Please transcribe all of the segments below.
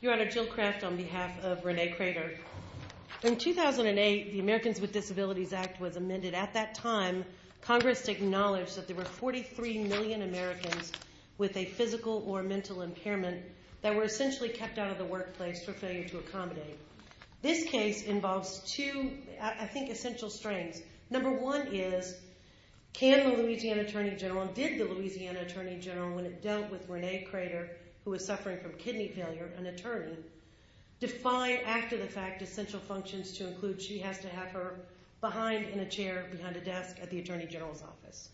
Your Honor, Jill Kraft on behalf of Renee Credeur. In 2008, the Americans with Disabilities Act was amended. At that time, Congress acknowledged that there were 43 million Americans with a physical or mental impairment that were essentially kept out of the workplace for failure to accommodate. This case involves two, I think, essential strains. Number one is, can the Louisiana Attorney General, and did the Louisiana Attorney General, when it dealt with Renee Credeur, who was suffering from kidney failure, an attorney, defy after-the-fact essential functions to include she has to have her behind in a chair, behind a desk at the Attorney General's office.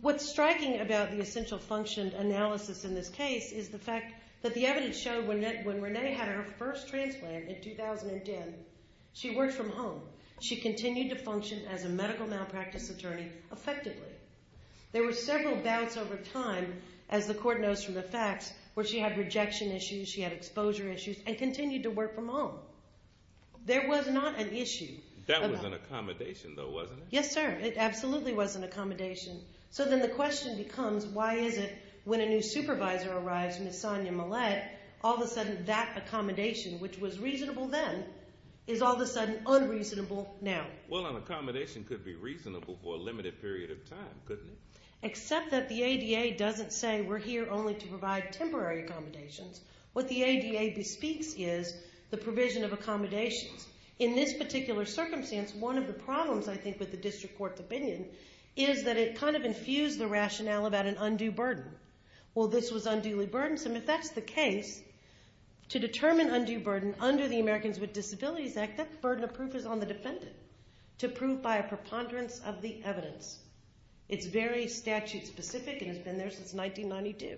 What's striking about the essential function analysis in this case is the fact that the evidence showed when Renee had her first transplant in 2010, she worked from home. She continued to function as a medical malpractice attorney effectively. There were several bouts over time, as the court knows from the facts, where she had rejection issues, she had exposure issues, and continued to work from home. There was not an issue. That was an accommodation, though, wasn't it? Yes, sir. It absolutely was an accommodation. So then the question becomes, why is it when a new supervisor arrives, Ms. Sonia Millett, all of a sudden that accommodation, which was reasonable then, is all of a sudden unreasonable now? Well, an accommodation could be reasonable for a limited period of time, couldn't it? Except that the ADA doesn't say we're here only to provide temporary accommodations. What the ADA bespeaks is the provision of accommodations. In this particular circumstance, one of the problems, I think, with the district court's opinion is that it kind of infused the rationale about an undue burden. Well, this was unduly burdensome. If that's the case, to determine undue burden under the Americans with Disabilities Act, that burden of proof is on the defendant. To prove by a preponderance of the evidence. It's very statute-specific and has been there since 1992.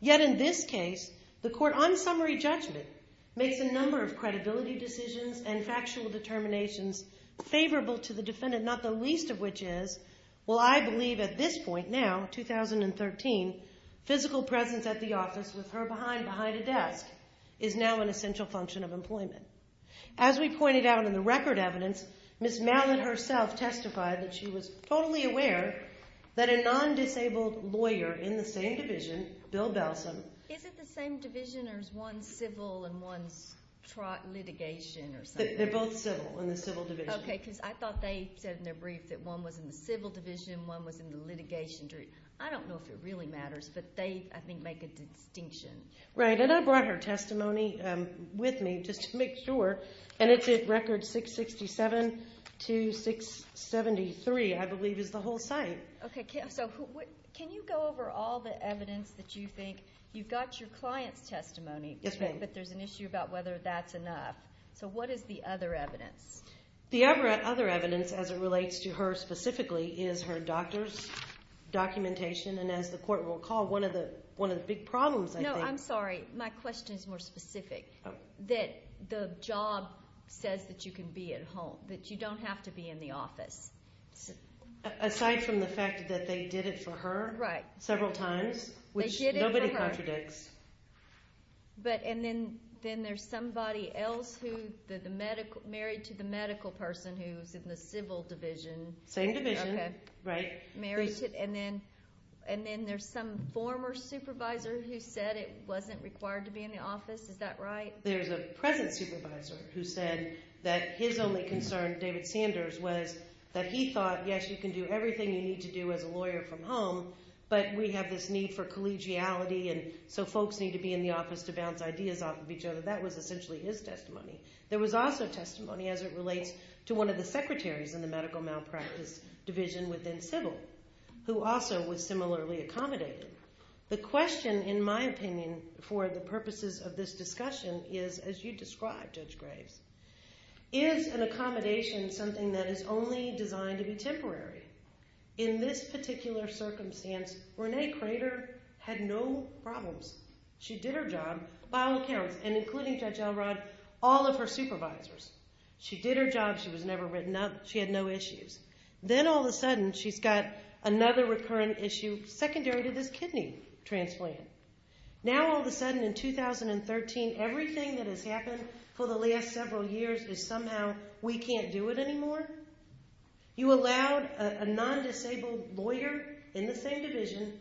Yet in this case, the court on summary judgment makes a number of credibility decisions and factual determinations favorable to the defendant, not the least of which is, well, I believe at this point now, 2013, physical presence at the office with her behind a desk is now an essential function of employment. As we pointed out in the record evidence, Ms. Allen herself testified that she was totally aware that a non-disabled lawyer in the same division, Bill Belsom... Is it the same division or is one civil and one litigation or something? They're both civil in the civil division. Okay, because I thought they said in their brief that one was in the civil division, one was in the litigation. I don't know if it really matters, but they, I think, make a distinction. Right, and I brought her testimony with me just to make sure, and it's at record 667 to 673, I believe, is the whole site. Okay, so can you go over all the evidence that you think, you've got your client's testimony, but there's an issue about whether that's enough. So what is the other evidence? The other evidence, as it relates to her specifically, is her doctor's documentation, and as the court will recall, one of the one of the big says that you can be at home, that you don't have to be in the office. Aside from the fact that they did it for her several times, which nobody contradicts. But, and then there's somebody else who, the medical, married to the medical person who's in the civil division. Same division, right. Married to, and then there's some former supervisor who said it wasn't required to be in the office. Is that right? There's a present supervisor who said that his only concern, David Sanders, was that he thought, yes, you can do everything you need to do as a lawyer from home, but we have this need for collegiality, and so folks need to be in the office to bounce ideas off of each other. That was essentially his testimony. There was also testimony, as it relates to one of the secretaries in the medical malpractice division within civil, who also was similarly accommodated. The question, in my opinion, for the purposes of this discussion is, as you described, Judge Graves, is an accommodation something that is only designed to be temporary? In this particular circumstance, Renee Crater had no problems. She did her job by all accounts, and including Judge Elrod, all of her supervisors. She did her job. She was never written up. She had no issues. Then all of a sudden, she's got another recurrent issue, secondary to this kidney transplant. Now all of a sudden, in 2013, everything that has happened for the last several years is somehow, we can't do it anymore? You allowed a non-disabled lawyer in the same division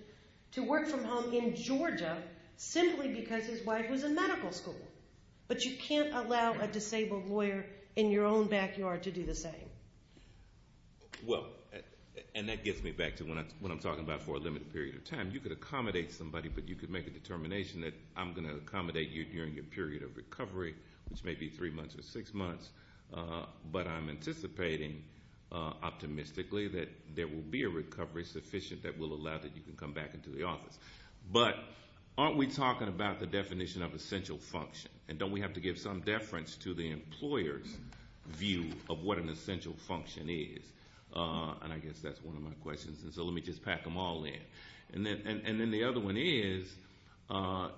to work from home in Georgia simply because his wife was in medical school, but you can't allow a disabled lawyer in your own backyard to do the same? Well, and that gets me back to what I'm talking about for a limited period of time. You could accommodate somebody, but you could make a determination that I'm going to accommodate you during your period of recovery, which may be three months or six months, but I'm anticipating, optimistically, that there will be a recovery sufficient that will allow that you can come back into the office. But aren't we talking about the definition of essential function, and don't we have to give some deference to the employer's view of what an essential function is? And I guess that's one of my questions, and so let me just pack them all in. And then the other one is,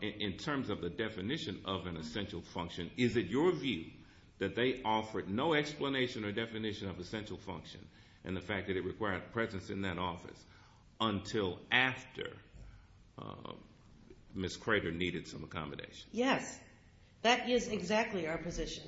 in terms of the definition of an essential function, is it your view that they offered no explanation or definition of essential function, and the fact that it required presence in that office, until after Ms. Crater needed some accommodation? Yes, that is exactly our position,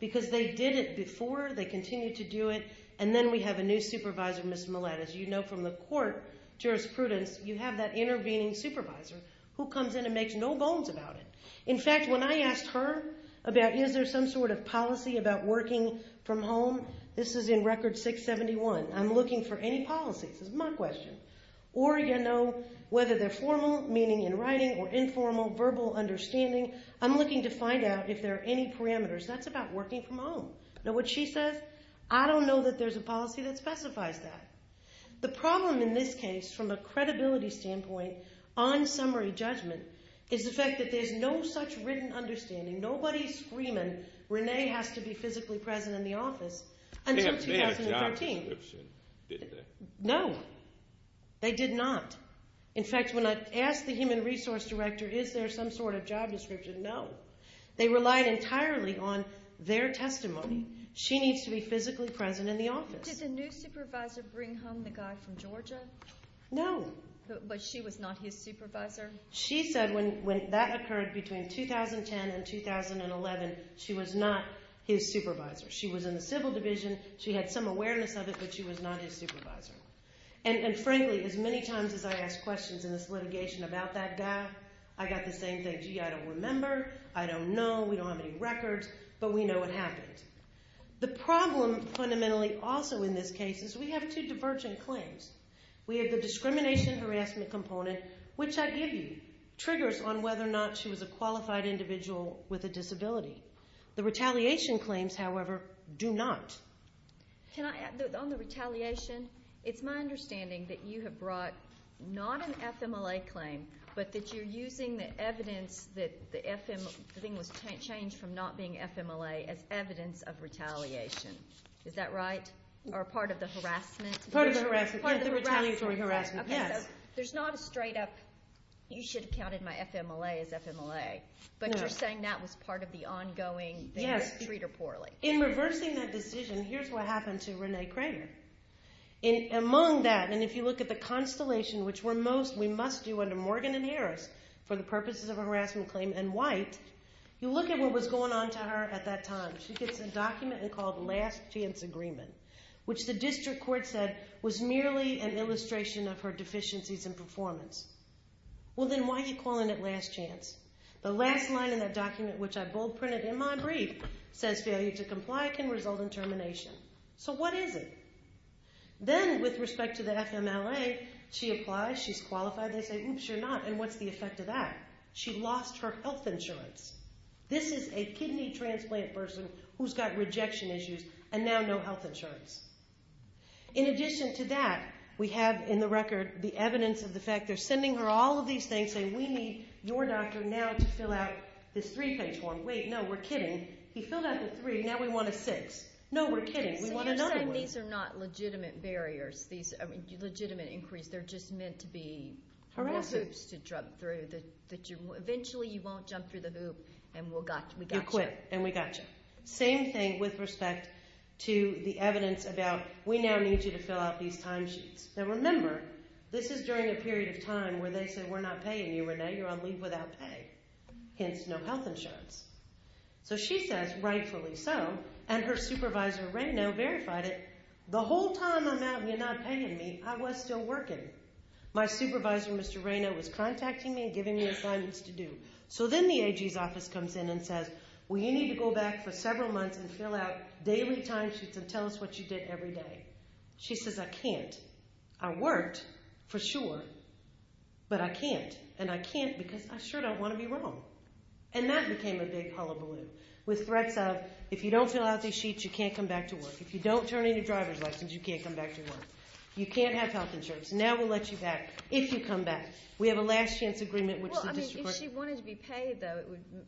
because they did it before, they continue to do it, and then we have a new supervisor, Ms. Millett. As you know from the court jurisprudence, you have that intervening supervisor who comes in and makes no bones about it. In fact, when I asked her about, is there some sort of policy about working from home, this is in Record 671. I'm looking for any policies, is my question. Or, you know, whether they're I'm looking to find out if there are any parameters. That's about working from home. Now, what she says, I don't know that there's a policy that specifies that. The problem in this case, from a credibility standpoint, on summary judgment, is the fact that there's no such written understanding, nobody's screaming, Renee has to be physically present in the office, until 2013. They didn't have a job description, did they? No, they did not. In fact, when I asked the human resource director, is there some sort of job description? No. They relied entirely on their testimony. She needs to be physically present in the office. Did the new supervisor bring home the guy from Georgia? No. But she was not his supervisor? She said when that occurred between 2010 and 2011, she was not his supervisor. She was in the civil division, she had some awareness of it, but she was not his supervisor. And frankly, as many times as I ask questions in this case, I can't say, gee, I don't remember, I don't know, we don't have any records, but we know what happened. The problem, fundamentally, also in this case is we have two divergent claims. We have the discrimination harassment component, which I give you, triggers on whether or not she was a qualified individual with a disability. The retaliation claims, however, do not. Can I add, on the retaliation, it's my understanding that you have brought not an FMLA claim, but that you're using the evidence that the FM, the thing was changed from not being FMLA as evidence of retaliation. Is that right? Or part of the harassment? Part of the harassment. Part of the retaliatory harassment, yes. Okay, so there's not a straight up, you should have counted my FMLA as FMLA, but you're saying that was part of the ongoing, that you didn't treat her poorly. In reversing that decision, here's what happened to Renee Kramer. In among that, and if you look at the constellation, which were most, we must do under Morgan and Harris, for the purposes of a harassment claim, and White, you look at what was going on to her at that time. She gets a document called last chance agreement, which the district court said was merely an illustration of her deficiencies in performance. Well, then why are you calling it last chance? The last line in that document, which I bold printed in my brief, says failure to comply can result in termination. So what is it? Then, with respect to the FMLA, she applies, she's qualified, they say, oops, you're not, and what's the effect of that? She lost her health insurance. This is a kidney transplant person who's got rejection issues and now no health insurance. In addition to that, we have in the record the evidence of the fact they're sending her all of these things saying, we need your doctor now to fill out this three page form. Wait, no, we're kidding. He filled out the three, now we want a six. No, we're kidding, we want another one. These are not legitimate barriers. These are legitimate inquiries. They're just meant to be more hoops to jump through. Eventually you won't jump through the hoop and we got you. You're quick and we got you. Same thing with respect to the evidence about, we now need you to fill out these timesheets. Now, remember, this is during a period of time where they say, we're not paying you, Renee, you're on leave without pay, hence no health insurance. So she says, rightfully so, and her supervisor, Rayno, verified it. The whole time I'm out and you're not paying me, I was still working. My supervisor, Mr. Rayno, was contacting me and giving me assignments to do. So then the AG's office comes in and says, well, you need to go back for several months and fill out daily timesheets and tell us what you did every day. She says, I can't. I worked for sure, but I can't and I can't because I sure don't want to be wrong. And that became a big hullabaloo with threats of, if you don't fill out these sheets, you can't come back to work. If you don't turn in your driver's license, you can't come back to work. You can't have health insurance. Now we'll let you back, if you come back. We have a last-chance agreement, which the district court... Well, I mean, if she wanted to be paid, though,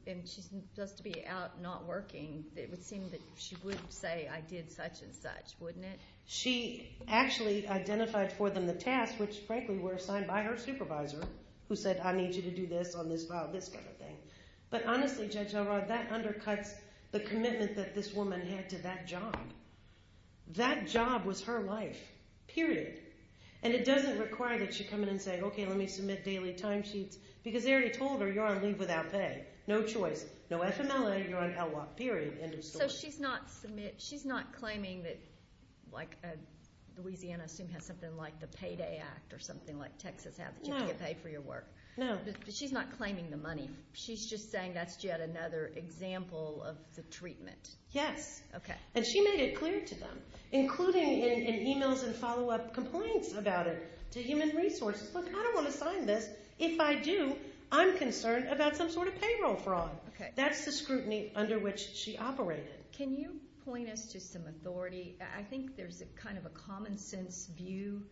and she's supposed to be out not working, it would seem that she would say, I did such and such, wouldn't it? She actually identified for them the task, which, frankly, were assigned by her supervisor, who said, I need you to do this on this file, this kind of thing. But honestly, Judge Elrod, that undercuts the commitment that this woman had to that job. That job was her life, period. And it doesn't require that she come in and say, okay, let me submit daily timesheets, because they already told her, you're on leave without pay. No choice. No FMLA, you're on HELWOP, period, end of story. So she's not claiming that, like, Louisiana, I assume, has something like Texas has, that you can get paid for your work. No. But she's not claiming the money. She's just saying that's yet another example of the treatment. Yes. Okay. And she made it clear to them, including in emails and follow-up complaints about it, to human resources. Look, I don't want to sign this. If I do, I'm concerned about some sort of payroll fraud. Okay. That's the scrutiny under which she operated. Can you point us to some authority? I think there's a kind of a common-sense view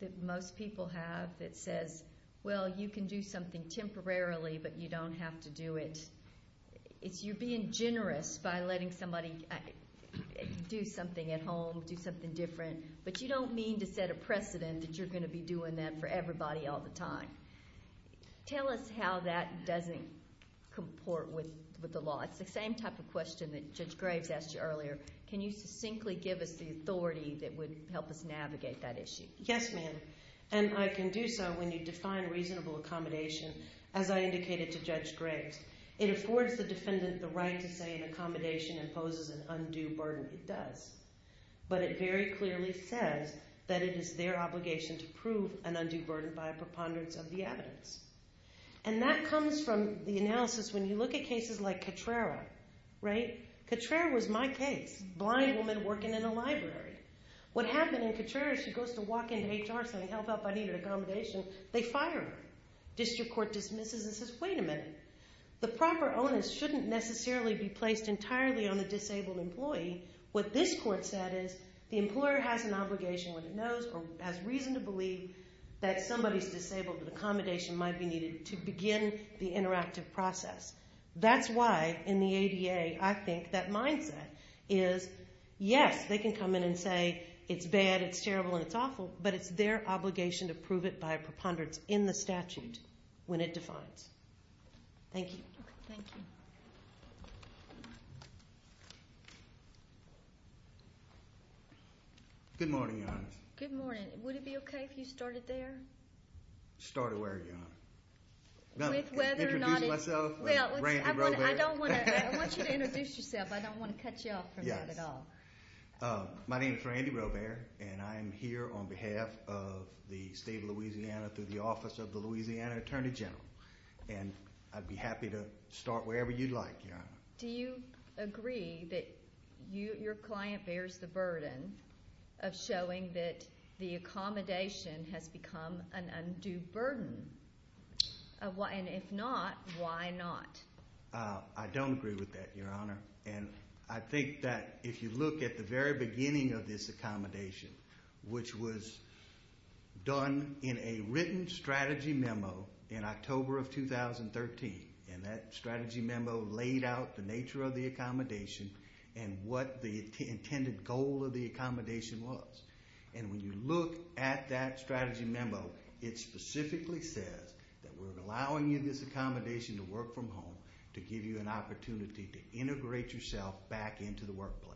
that most people have that says, well, you can do something temporarily, but you don't have to do it. You're being generous by letting somebody do something at home, do something different, but you don't mean to set a precedent that you're going to be doing that for everybody all the time. Tell us how that doesn't comport with the law. It's the same type of question that Judge Graves asked you earlier. Can you succinctly give us the authority that would help us navigate that issue? Yes, ma'am. And I can do so when you define reasonable accommodation, as I indicated to Judge Graves. It affords the defendant the right to say an accommodation imposes an undue burden. It does. But it very clearly says that it is their obligation to prove an undue burden by a preponderance of the evidence. And that comes from the analysis. When you look at cases like Cotrera was my case, a blind woman working in a library. What happened in Cotrera, she goes to walk into HR saying, help, help, I need an accommodation. They fire her. District Court dismisses and says, wait a minute. The proper onus shouldn't necessarily be placed entirely on the disabled employee. What this court said is the employer has an obligation when it knows or has reason to believe that somebody's disabled and accommodation might be needed to begin the interactive process. That's why in the ADA, I think that mindset is, yes, they can come in and say it's bad, it's terrible, and it's awful, but it's their obligation to prove it by a preponderance in the statute when it defines. Thank you. Thank you. Good morning, Your Honor. Good morning. Would it be okay if you started there? Start where, Your Honor? With whether or not it's... Introducing myself, Randy Robert. I want you to introduce yourself. I don't want to cut you off from that at all. My name is Randy Robert, and I'm here on behalf of the state of Louisiana through the office of the Louisiana Attorney General. And I'd be happy to start wherever you'd like, Your Honor. Do you agree that your client bears the burden of showing that the accommodation has become an undue burden? And if not, why not? I don't agree with that, Your Honor. And I think that if you look at the very beginning of this accommodation, which was done in a written strategy memo in October of 2013, and that strategy memo laid out the nature of the accommodation and what the intended goal of accommodation was. And when you look at that strategy memo, it specifically says that we're allowing you this accommodation to work from home to give you an opportunity to integrate yourself back into the workplace.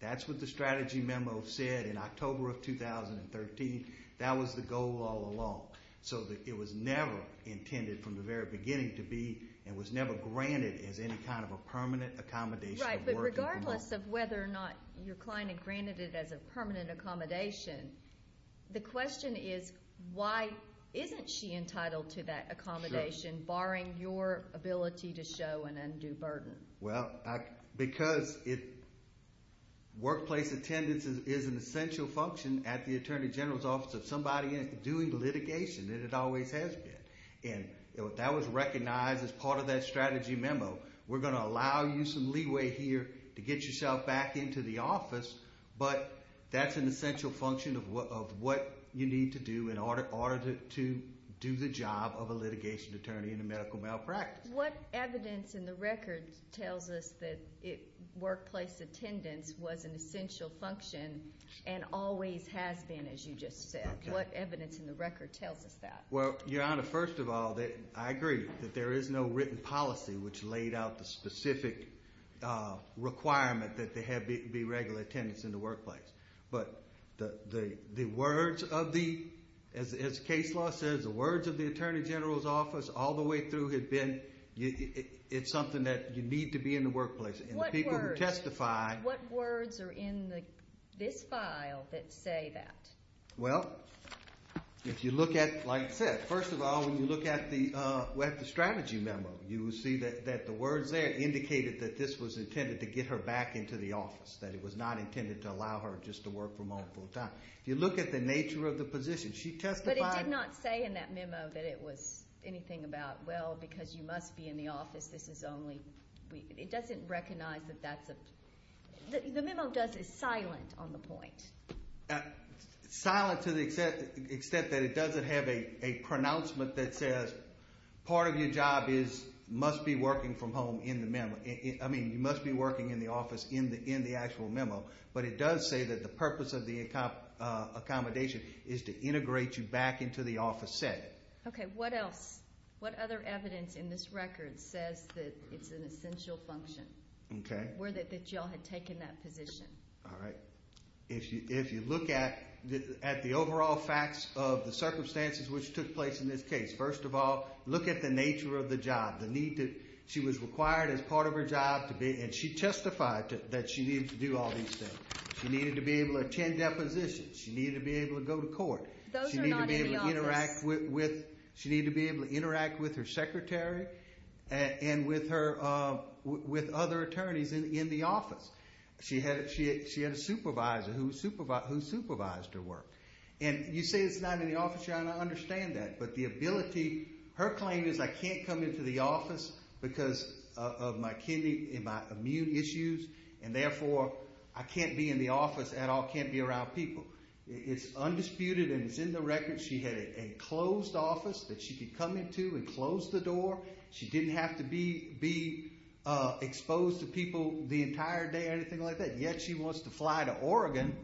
That's what the strategy memo said in October of 2013. That was the goal all along, so that it was never intended from the very beginning to be and was never granted as any kind of a permanent accommodation of working from home. Regardless of whether or not your client had granted it as a permanent accommodation, the question is, why isn't she entitled to that accommodation, barring your ability to show an undue burden? Well, because workplace attendance is an essential function at the Attorney General's office of somebody doing litigation, and it always has been. And that was recognized as that strategy memo. We're going to allow you some leeway here to get yourself back into the office, but that's an essential function of what you need to do in order to do the job of a litigation attorney in a medical malpractice. What evidence in the record tells us that workplace attendance was an essential function and always has been, as you just said? What evidence in the record tells us that workplace attendance was an essential function? There was a written policy which laid out the specific requirement that there be regular attendance in the workplace. But the words of the Attorney General's office all the way through have been it's something that you need to be in the workplace. And the people who testify... What words are in this file that say that? Well, if you look at, like I said, first of all, when you look at the strategy memo, you will see that the words there indicated that this was intended to get her back into the office, that it was not intended to allow her just to work from home full-time. If you look at the nature of the position, she testified... But it did not say in that memo that it was anything about, well, because you must be in the office, this is only... It doesn't recognize that that's a... The memo is silent on the point. Silent to the extent that it doesn't have a pronouncement that says, part of your job is, must be working from home in the memo. I mean, you must be working in the office in the actual memo. But it does say that the purpose of the accommodation is to integrate you back into the office set. Okay. What else? What other evidence in this record says that it's an essential function? Where that y'all had taken that position? All right. If you look at the overall facts of the circumstances which took place in this case, first of all, look at the nature of the job, the need to... She was required as part of her job to be... And she testified that she needed to do all these things. She needed to be able to attend depositions. She needed to be able to go to court. Those are not in the office. She needed to be able to interact with her secretary and with other attorneys in the office. She had a supervisor who supervised her work. And you say it's not in the office. I understand that. But the ability... Her claim is, I can't come into the office because of my kidney, my immune issues. And therefore, I can't be in the office at all, can't be around people. It's undisputed and it's in the record. She had a closed office that she could come into and close the door. She didn't have to be exposed to people the entire day or anything like that. And yet, she wants to fly to Oregon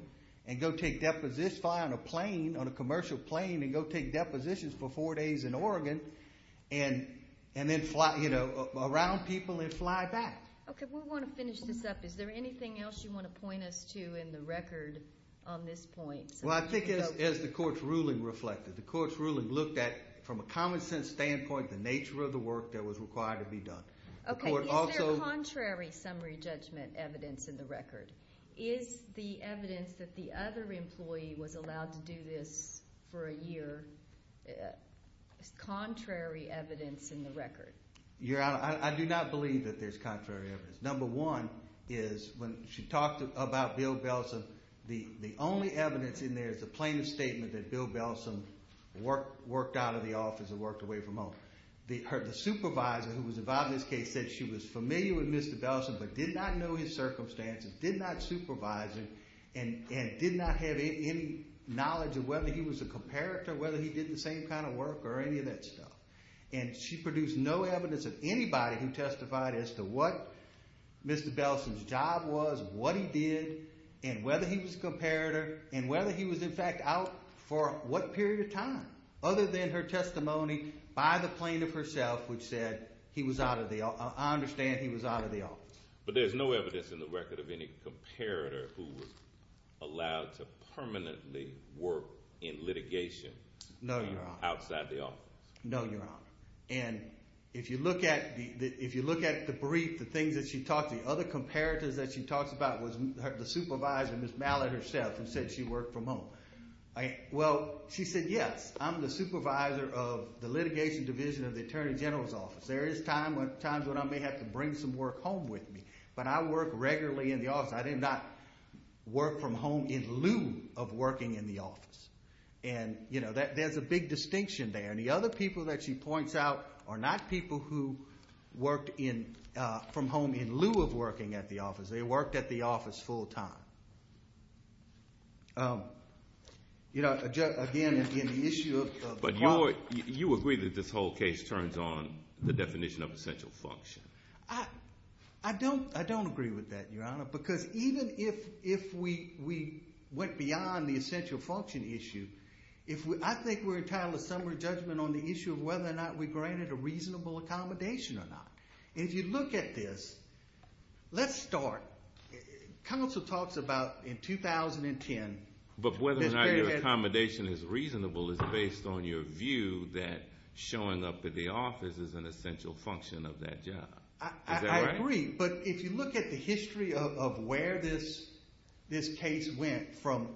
and go take depositions, fly on a plane, on a commercial plane, and go take depositions for four days in Oregon and then fly around people and fly back. Okay, we want to finish this up. Is there anything else you want to point us to in the record on this point? Well, I think as the court's ruling reflected, the court's ruling looked at, from a common sense standpoint, the nature of the work that was required to be done. Okay, is there contrary summary judgment evidence in the record? Is the evidence that the other employee was allowed to do this for a year, contrary evidence in the record? Your Honor, I do not believe that there's contrary evidence. Number one is, when she talked about Bill Belsom, the only evidence in there is a plaintiff's statement that Bill Belsom worked out of the office and worked away from home. The supervisor who was involved in this case said she was familiar with Mr. Belsom but did not know his circumstances, did not supervise him, and did not have any knowledge of whether he was a comparator, whether he did the same kind of work, or any of that stuff. And she produced no evidence of anybody who testified as to what Mr. Belsom's job was, what he did, and whether he was a comparator, and whether he was in fact out for what period of time other than her testimony by the plaintiff herself, which said he was out of the office. I understand he was out of the office. But there's no evidence in the record of any comparator who was allowed to permanently work in litigation outside the office. No, Your Honor. And if you look at the brief, the things that she talked, the other comparators that she talked about was the supervisor, Ms. Mallard herself, who said she worked from home. Well, she said, yes, I'm the supervisor of the litigation division of the Attorney General's office. There is times when I may have to bring some work home with me. But I work regularly in the office. I did not work from home in lieu of working in the office. And, you know, there's a big distinction there. And the other people that she points out are not people who worked from home in lieu of working at the office. They worked at the office full time. You know, again, in the issue of the quality. You agree that this whole case turns on the definition of essential function. I don't agree with that, Your Honor, because even if we went beyond the essential function issue, I think we're entitled to summary judgment on the issue of whether or not we granted a reasonable accommodation or not. And if you look at this, let's start. Counsel talks about in 2010. But whether or not your accommodation is reasonable is based on your view that showing up at the office is an essential function of that job. Is that right? I agree. But if you look at the history of where this case went from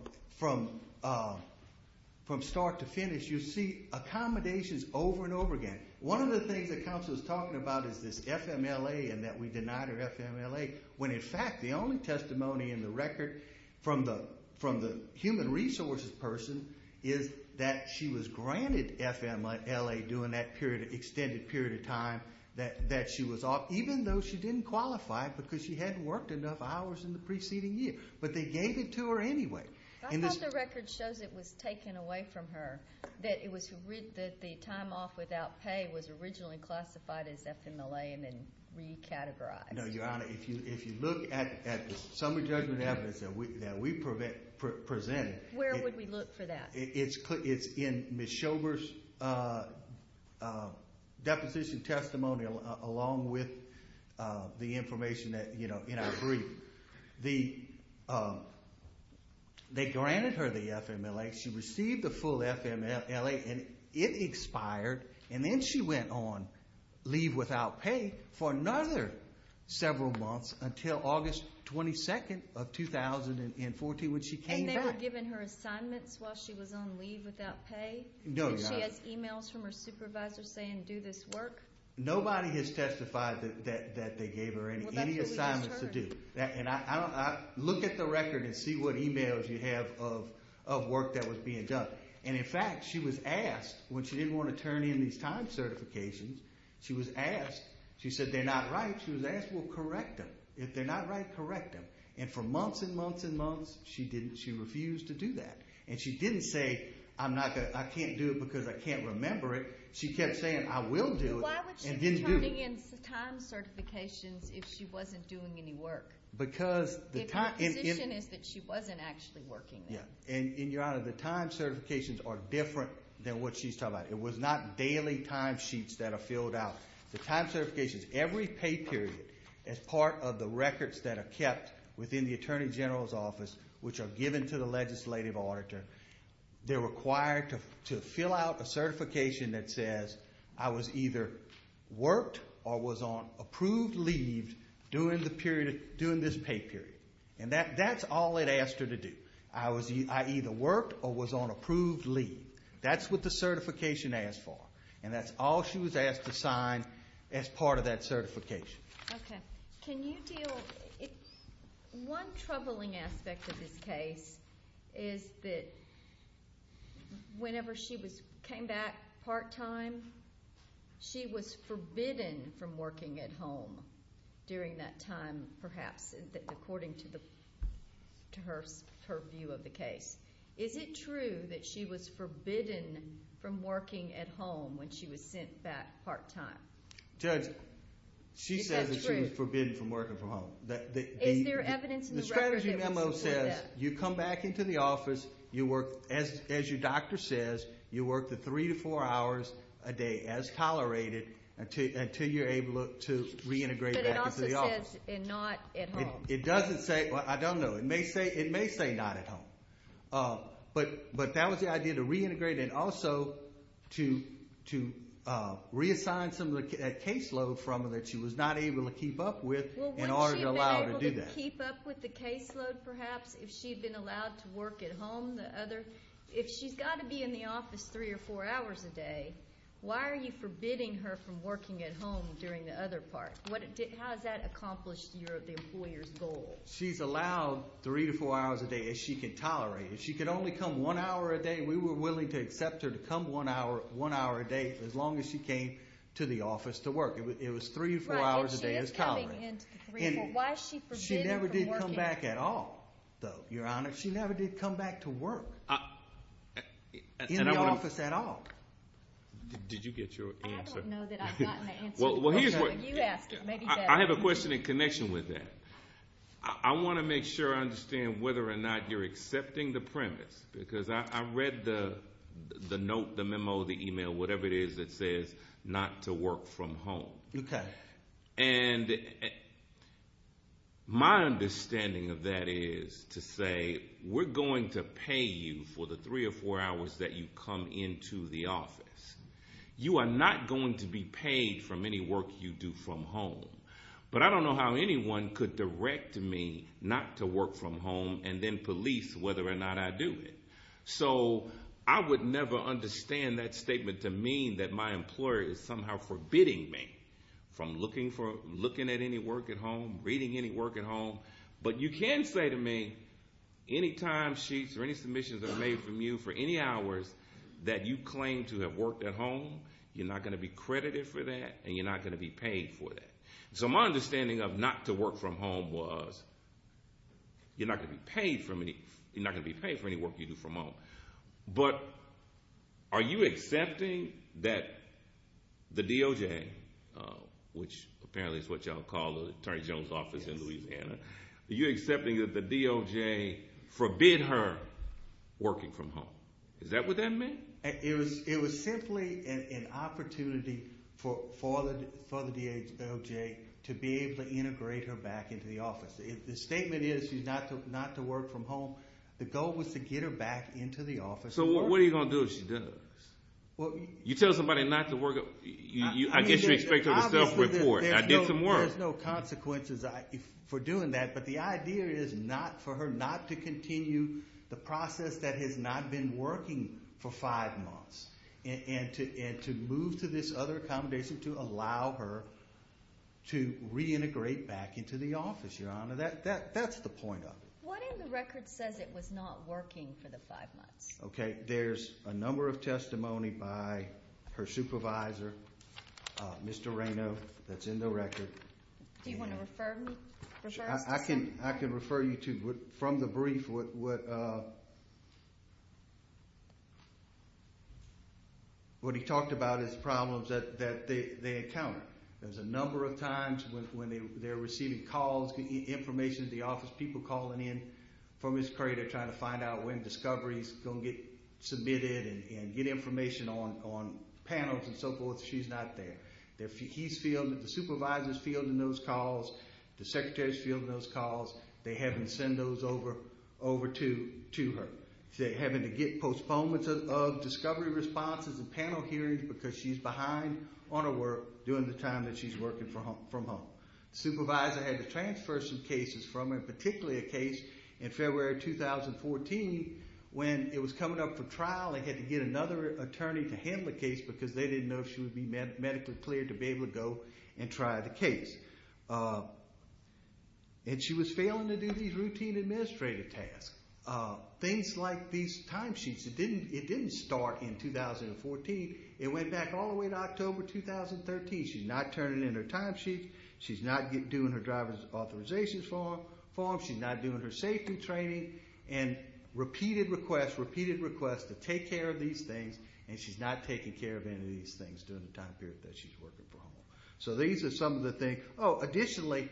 start to finish, you see accommodations over and over again. One of the things that counsel is talking about is this FMLA and that we denied her FMLA. When, in fact, the only testimony in the record from the human resources person is that she was granted FMLA during that extended period of time that she was off, even though she didn't qualify because she hadn't worked enough hours in the preceding year. But they gave it to her anyway. I thought the record shows it was taken away from her, that the time off without pay was originally classified as FMLA and then recategorized. No, Your Honor. If you look at the summary judgment evidence that we presented. Where would we look for that? It's in Ms. Schober's deposition testimony along with the information in our brief. They granted her the FMLA. She received the full FMLA and it expired. Then she went on leave without pay for another several months until August 22nd of 2014 when she came back. And they were giving her assignments while she was on leave without pay? No, Your Honor. Did she have emails from her supervisor saying do this work? Nobody has testified that they gave her any assignments to do. Look at the record and see what emails you have of work that was being done. And in fact, she was asked when she didn't want to turn in these time certifications. She was asked. She said they're not right. She was asked, well, correct them. If they're not right, correct them. And for months and months and months, she refused to do that. And she didn't say, I can't do it because I can't remember it. She kept saying, I will do it. But why would she be turning in time certifications if she wasn't doing any work? Because the time. Her position is that she wasn't actually working there. Yeah. And Your Honor, the time certifications are different than what she's talking about. It was not daily time sheets that are filled out. The time certifications, every pay period as part of the records that are kept within the Attorney General's office, which are given to the legislative auditor, they're required to fill out a certification that says I was either worked or was on approved leave during the period, during this pay period. And that's all it asked her to do. I was, I either worked or was on approved leave. That's what the certification asked for. And that's all she was asked to sign as part of that certification. Okay. Can you deal, one troubling aspect of this case is that whenever she was, came back part time, she was forbidden from working at home during that time, perhaps, according to the, to her, her view of the case. Is it true that she was forbidden from working at home when she was sent back part time? Judge, she says that she was forbidden from working from home. Is there evidence in the record that would support that? The strategy memo says you come back into the office, you work, as your doctor says, you work the three to four hours a day as tolerated until you're able to reintegrate back into the office. But it also says not at home. It doesn't say, well, I don't know. It may say, it may say not at home. But, but that was the idea to reintegrate and also to, to reassign some of the caseload from her that she was not able to keep up with in order to allow her to do that. Well, wouldn't she have been able to keep up with the caseload, perhaps, if she'd been allowed to work at home the other, if she's got to be in the office three or four hours a day, why are you forbidding her from working at home during the other part? What, how has that accomplished your, the employer's goal? She's allowed three to four hours a day as she can tolerate. If she could only come one hour a day, we were willing to accept her to come one hour, one hour a day, as long as she came to the office to work. It was three to four hours a day as tolerated. Right, and she is coming into the three to four. Why is she forbidding her from working? She never did come back at all, though, Your Honor. She never did come back to work in the office at all. Did you get your answer? I don't know that I've gotten the answer. Well, here's what, I have a question in connection with that. I want to make sure I understand whether or not you're accepting the premise, because I read the note, the memo, the email, whatever it is that says not to work from home. Okay. And my understanding of that is to say, we're going to pay you for the three or four hours that you come into the office. You are not going to be paid from any work you do from home, but I don't know how anyone could direct me not to work from home and then police whether or not I do it. So I would never understand that statement to mean that my employer is somehow forbidding me from looking at any work at home, reading any work at home. But you can say to me, any time sheets or any submissions that are made from you for any hours that you claim to have worked at home, you're not going to be credited for that and you're not going to be paid for that. So my understanding of not to work from home was you're not going to be paid for any work you do from home. But are you accepting that the DOJ, which apparently is what y'all call the Attorney General's office in Louisiana, are you accepting that the DOJ forbid her working from home? Is that what that meant? It was simply an opportunity for the DOJ to be able to integrate her back into the office. The statement is she's not to work from home. The goal was to get her back into the office. So what are you going to do if she does? You tell somebody not to work. I guess you expect her to self-report. I did some work. There's no consequences for doing that. But the idea is for her not to continue the process that has not been working for five months and to move to this other accommodation to allow her to reintegrate back into the office, Your Honor. That's the point of it. What if the record says it was not working for the five months? OK, there's a number of testimony by her supervisor, Mr. Reyno, that's in the record. Do you want to refer me? I can refer you to, from the brief, what he talked about is problems that they encountered. There's a number of times when they're receiving calls, information to the office, people calling in from his crater trying to find out when discoveries going to get submitted and get information on panels and so forth. She's not there. He's fielding, the supervisor's fielding those calls. The secretary's fielding those calls. They have him send those over to her. Having to get postponements of discovery responses and panel hearings because she's behind on her work during the time that she's working from home. The supervisor had to transfer some cases from her, particularly a case in February 2014 when it was coming up for trial. They had to get another attorney to handle the case because they didn't know if she would be medically cleared to be able to go and try the case. And she was failing to do these routine administrative tasks. Things like these timesheets, it didn't start in 2014. It went back all the way to October 2013. She's not turning in her timesheet. She's not doing her driver's authorization form. She's not doing her safety training and repeated requests, repeated requests to take care of these things and she's not taking care of any of these things during the time period that she's working from home. So these are some of the things. Additionally,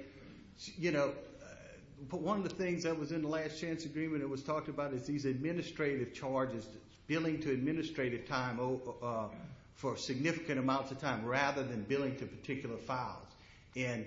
one of the things that was in the last chance agreement that was talked about is these administrative charges, billing to administrative time for significant amounts of time rather than billing to particular files. And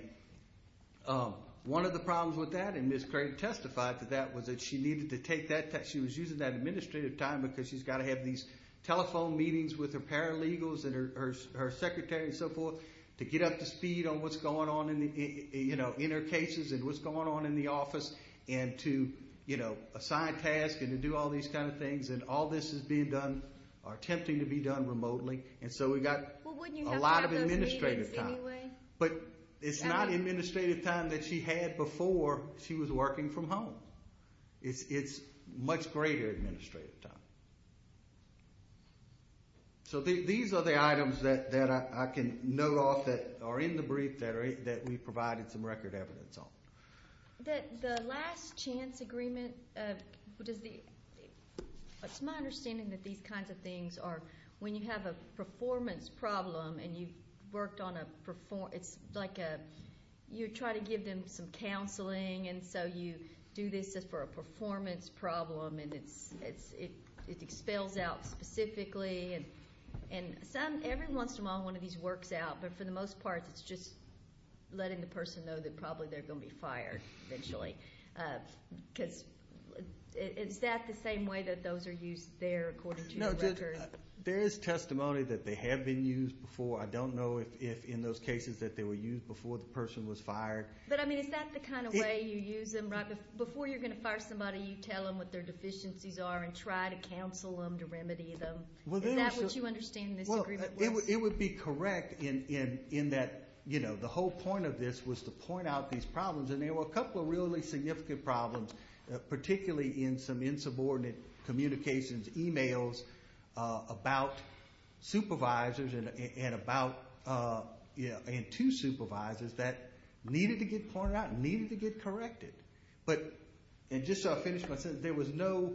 one of the problems with that, and Ms. Craig testified to that, was that she needed to take that, she was using that administrative time because she's got to have these telephone meetings with her paralegals and her secretary and so forth to get up to speed on what's going on in the, you know, in her cases and what's going on in the office and to, you know, assign tasks and to do all these kind of things and all this is being done or attempting to be done remotely. And so we got a lot of administrative time. But it's not administrative time that she had before she was working from home. It's much greater administrative time. So these are the items that I can note off that are in the brief that we provided some record evidence on. That the last chance agreement, what is the, it's my understanding that these kinds of things are when you have a performance problem and you've worked on a performance, it's like a, you try to give them some counseling and so you do this for a performance problem and it expels out specifically and some, every once in a while one of these works out. But for the most part, it's just letting the person know that probably they're going to be fired eventually. Because is that the same way that those are used there according to the record? There is testimony that they have been used before. I don't know if in those cases that they were used before the person was fired. But I mean, is that the kind of way you use them, right? What their deficiencies are and try to counsel them, to remedy them? Is that what you understand in this agreement? It would be correct in that, you know, the whole point of this was to point out these problems and there were a couple of really significant problems, particularly in some insubordinate communications, emails about supervisors and about, you know, and two supervisors that needed to get pointed out, needed to get corrected. But, and just so I finish my sentence, there was no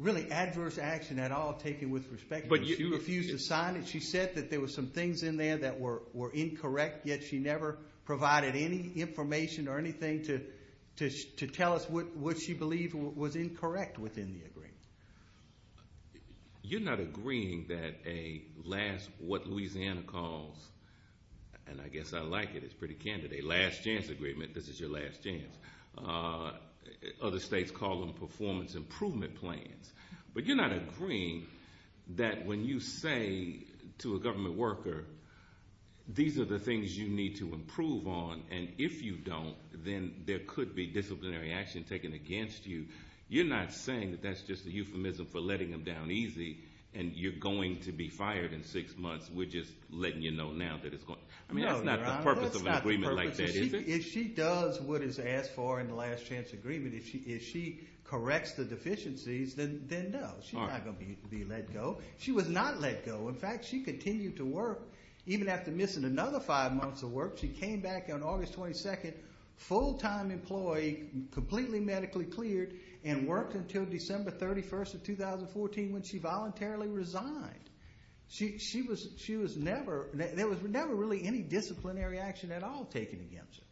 really adverse action at all taken with respect. But you refused to sign it. She said that there were some things in there that were incorrect, yet she never provided any information or anything to tell us what she believed was incorrect within the agreement. You're not agreeing that a last, what Louisiana calls, and I guess I like it, it's pretty candid, a last chance agreement, this is your last chance. Other states call them performance improvement plans. But you're not agreeing that when you say to a government worker, these are the things you need to improve on, and if you don't, then there could be disciplinary action taken against you. You're not saying that that's just a euphemism for letting them down easy and you're going to be fired in six months. We're just letting you know now that it's going. I mean, that's not the purpose of an agreement like that, is it? If she does what is asked for in the last chance agreement, if she corrects the deficiencies, then no, she's not going to be let go. She was not let go. In fact, she continued to work. Even after missing another five months of work, she came back on August 22nd, full-time employee, completely medically cleared, and worked until December 31st of 2014 when she voluntarily resigned. She was never, there was never really any disciplinary action at all taken against her.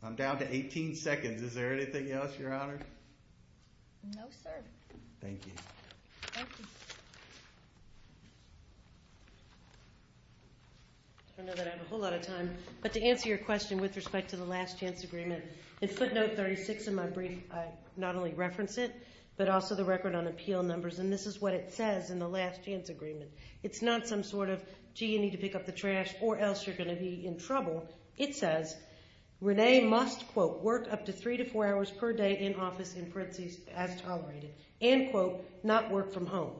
I'm down to 18 seconds. Is there anything else, Your Honor? No, sir. Thank you. I know that I have a whole lot of time, but to answer your question with respect to the but also the record on appeal numbers, and this is what it says in the last chance agreement. It's not some sort of, gee, you need to pick up the trash or else you're going to be in trouble. It says, Renee must, quote, work up to three to four hours per day in office in parentheses as tolerated, and, quote, not work from home.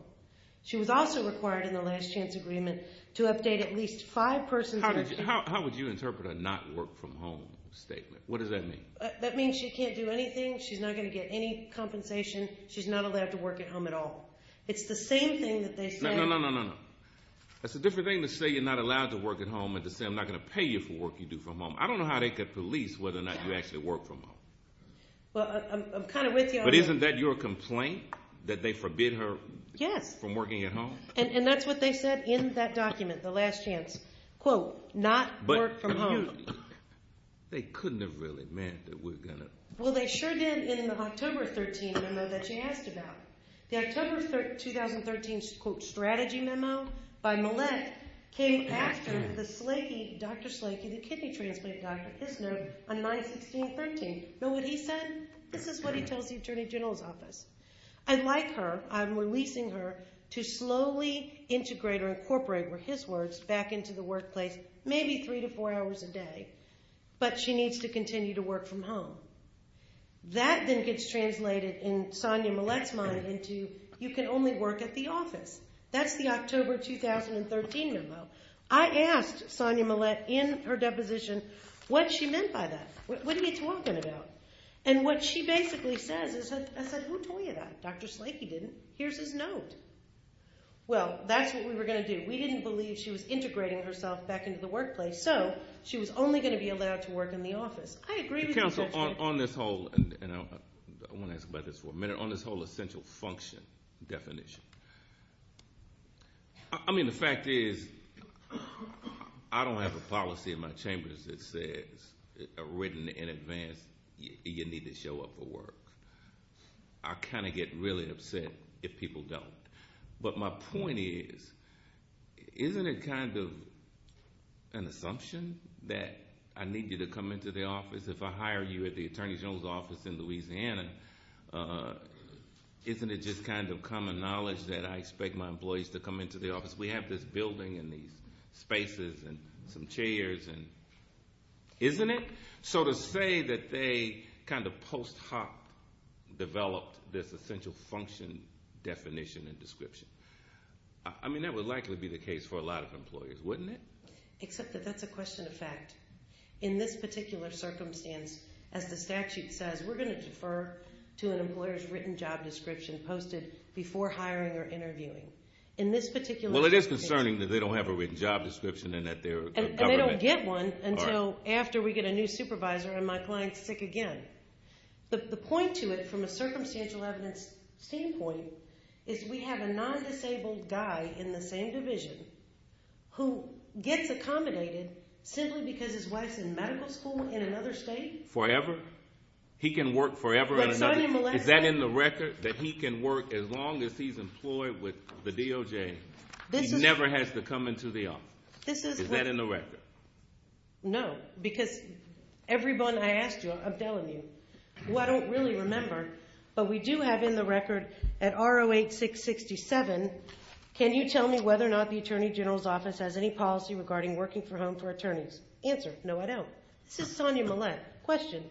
She was also required in the last chance agreement to update at least five persons. How would you interpret a not work from home statement? What does that mean? That means she can't do anything. She's not going to get any compensation. She's not allowed to work at home at all. It's the same thing that they said. No, no, no, no, no. That's a different thing to say you're not allowed to work at home and to say I'm not going to pay you for work you do from home. I don't know how they could police whether or not you actually work from home. Well, I'm kind of with you on that. But isn't that your complaint that they forbid her from working at home? Yes, and that's what they said in that document, the last chance. Quote, not work from home. They couldn't have really meant that we're going to. Well, they sure didn't in the October 13 memo that she asked about. The October 2013 quote strategy memo by Millette came after the Dr. Slakey, the kidney transplant doctor, his note on 9-16-13. Know what he said? This is what he tells the attorney general's office. I like her. I'm releasing her to slowly integrate or incorporate, were his words, back into the workplace, maybe three to four hours a day. But she needs to continue to work from home. That then gets translated in Sonia Millette's mind into you can only work at the office. That's the October 2013 memo. I asked Sonia Millette in her deposition what she meant by that. What are you talking about? And what she basically says is, I said, who told you that? Dr. Slakey didn't. Here's his note. Well, that's what we were going to do. We didn't believe she was integrating herself back into the workplace. So she was only going to be allowed to work in the office. Counsel, on this whole, and I want to ask about this for a minute, on this whole essential function definition, I mean, the fact is, I don't have a policy in my chambers that says, written in advance, you need to show up for work. I kind of get really upset if people don't. But my point is, isn't it kind of an assumption that I need you to come into the office? If I hire you at the Attorney General's office in Louisiana, isn't it just kind of common knowledge that I expect my employees to come into the office? We have this building and these spaces and some chairs and, isn't it? So to say that they kind of post hoc developed this essential function definition and description, I mean, that would likely be the case for a lot of employers, wouldn't it? Except that that's a question of fact. In this particular circumstance, as the statute says, we're going to defer to an employer's written job description posted before hiring or interviewing. In this particular... Well, it is concerning that they don't have a written job description and that their government... My client's sick again. The point to it, from a circumstantial evidence standpoint, is we have a non-disabled guy in the same division who gets accommodated simply because his wife's in medical school in another state. Forever? He can work forever in another state? Is that in the record? That he can work as long as he's employed with the DOJ? He never has to come into the office? Is that in the record? No, because everyone I asked you, I'm telling you, who I don't really remember, but we do have in the record at R08-667, can you tell me whether or not the attorney general's office has any policy regarding working from home for attorneys? Answer, no, I don't. This is Tanya Millett. Question,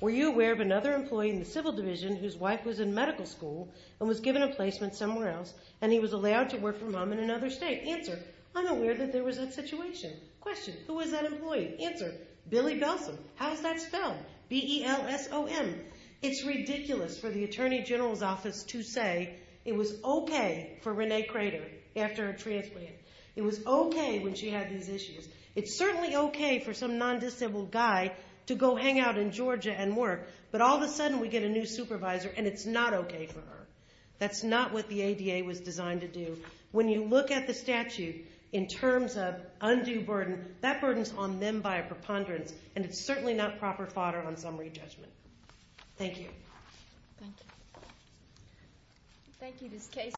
were you aware of another employee in the civil division whose wife was in medical school and was given a placement somewhere else and he was allowed to work from home in another state? Answer, I'm aware that there was that situation. Question, who was that employee? Answer, Billy Belsom. How is that spelled? B-E-L-S-O-M. It's ridiculous for the attorney general's office to say it was okay for Renee Crater after her transplant. It was okay when she had these issues. It's certainly okay for some non-disabled guy to go hang out in Georgia and work, but all of a sudden we get a new supervisor and it's not okay for her. That's not what the ADA was designed to do. When you look at the statute in terms of undue burden, that burden's on them by a preponderance and it's certainly not proper fodder on summary judgment. Thank you. Thank you. Thank you.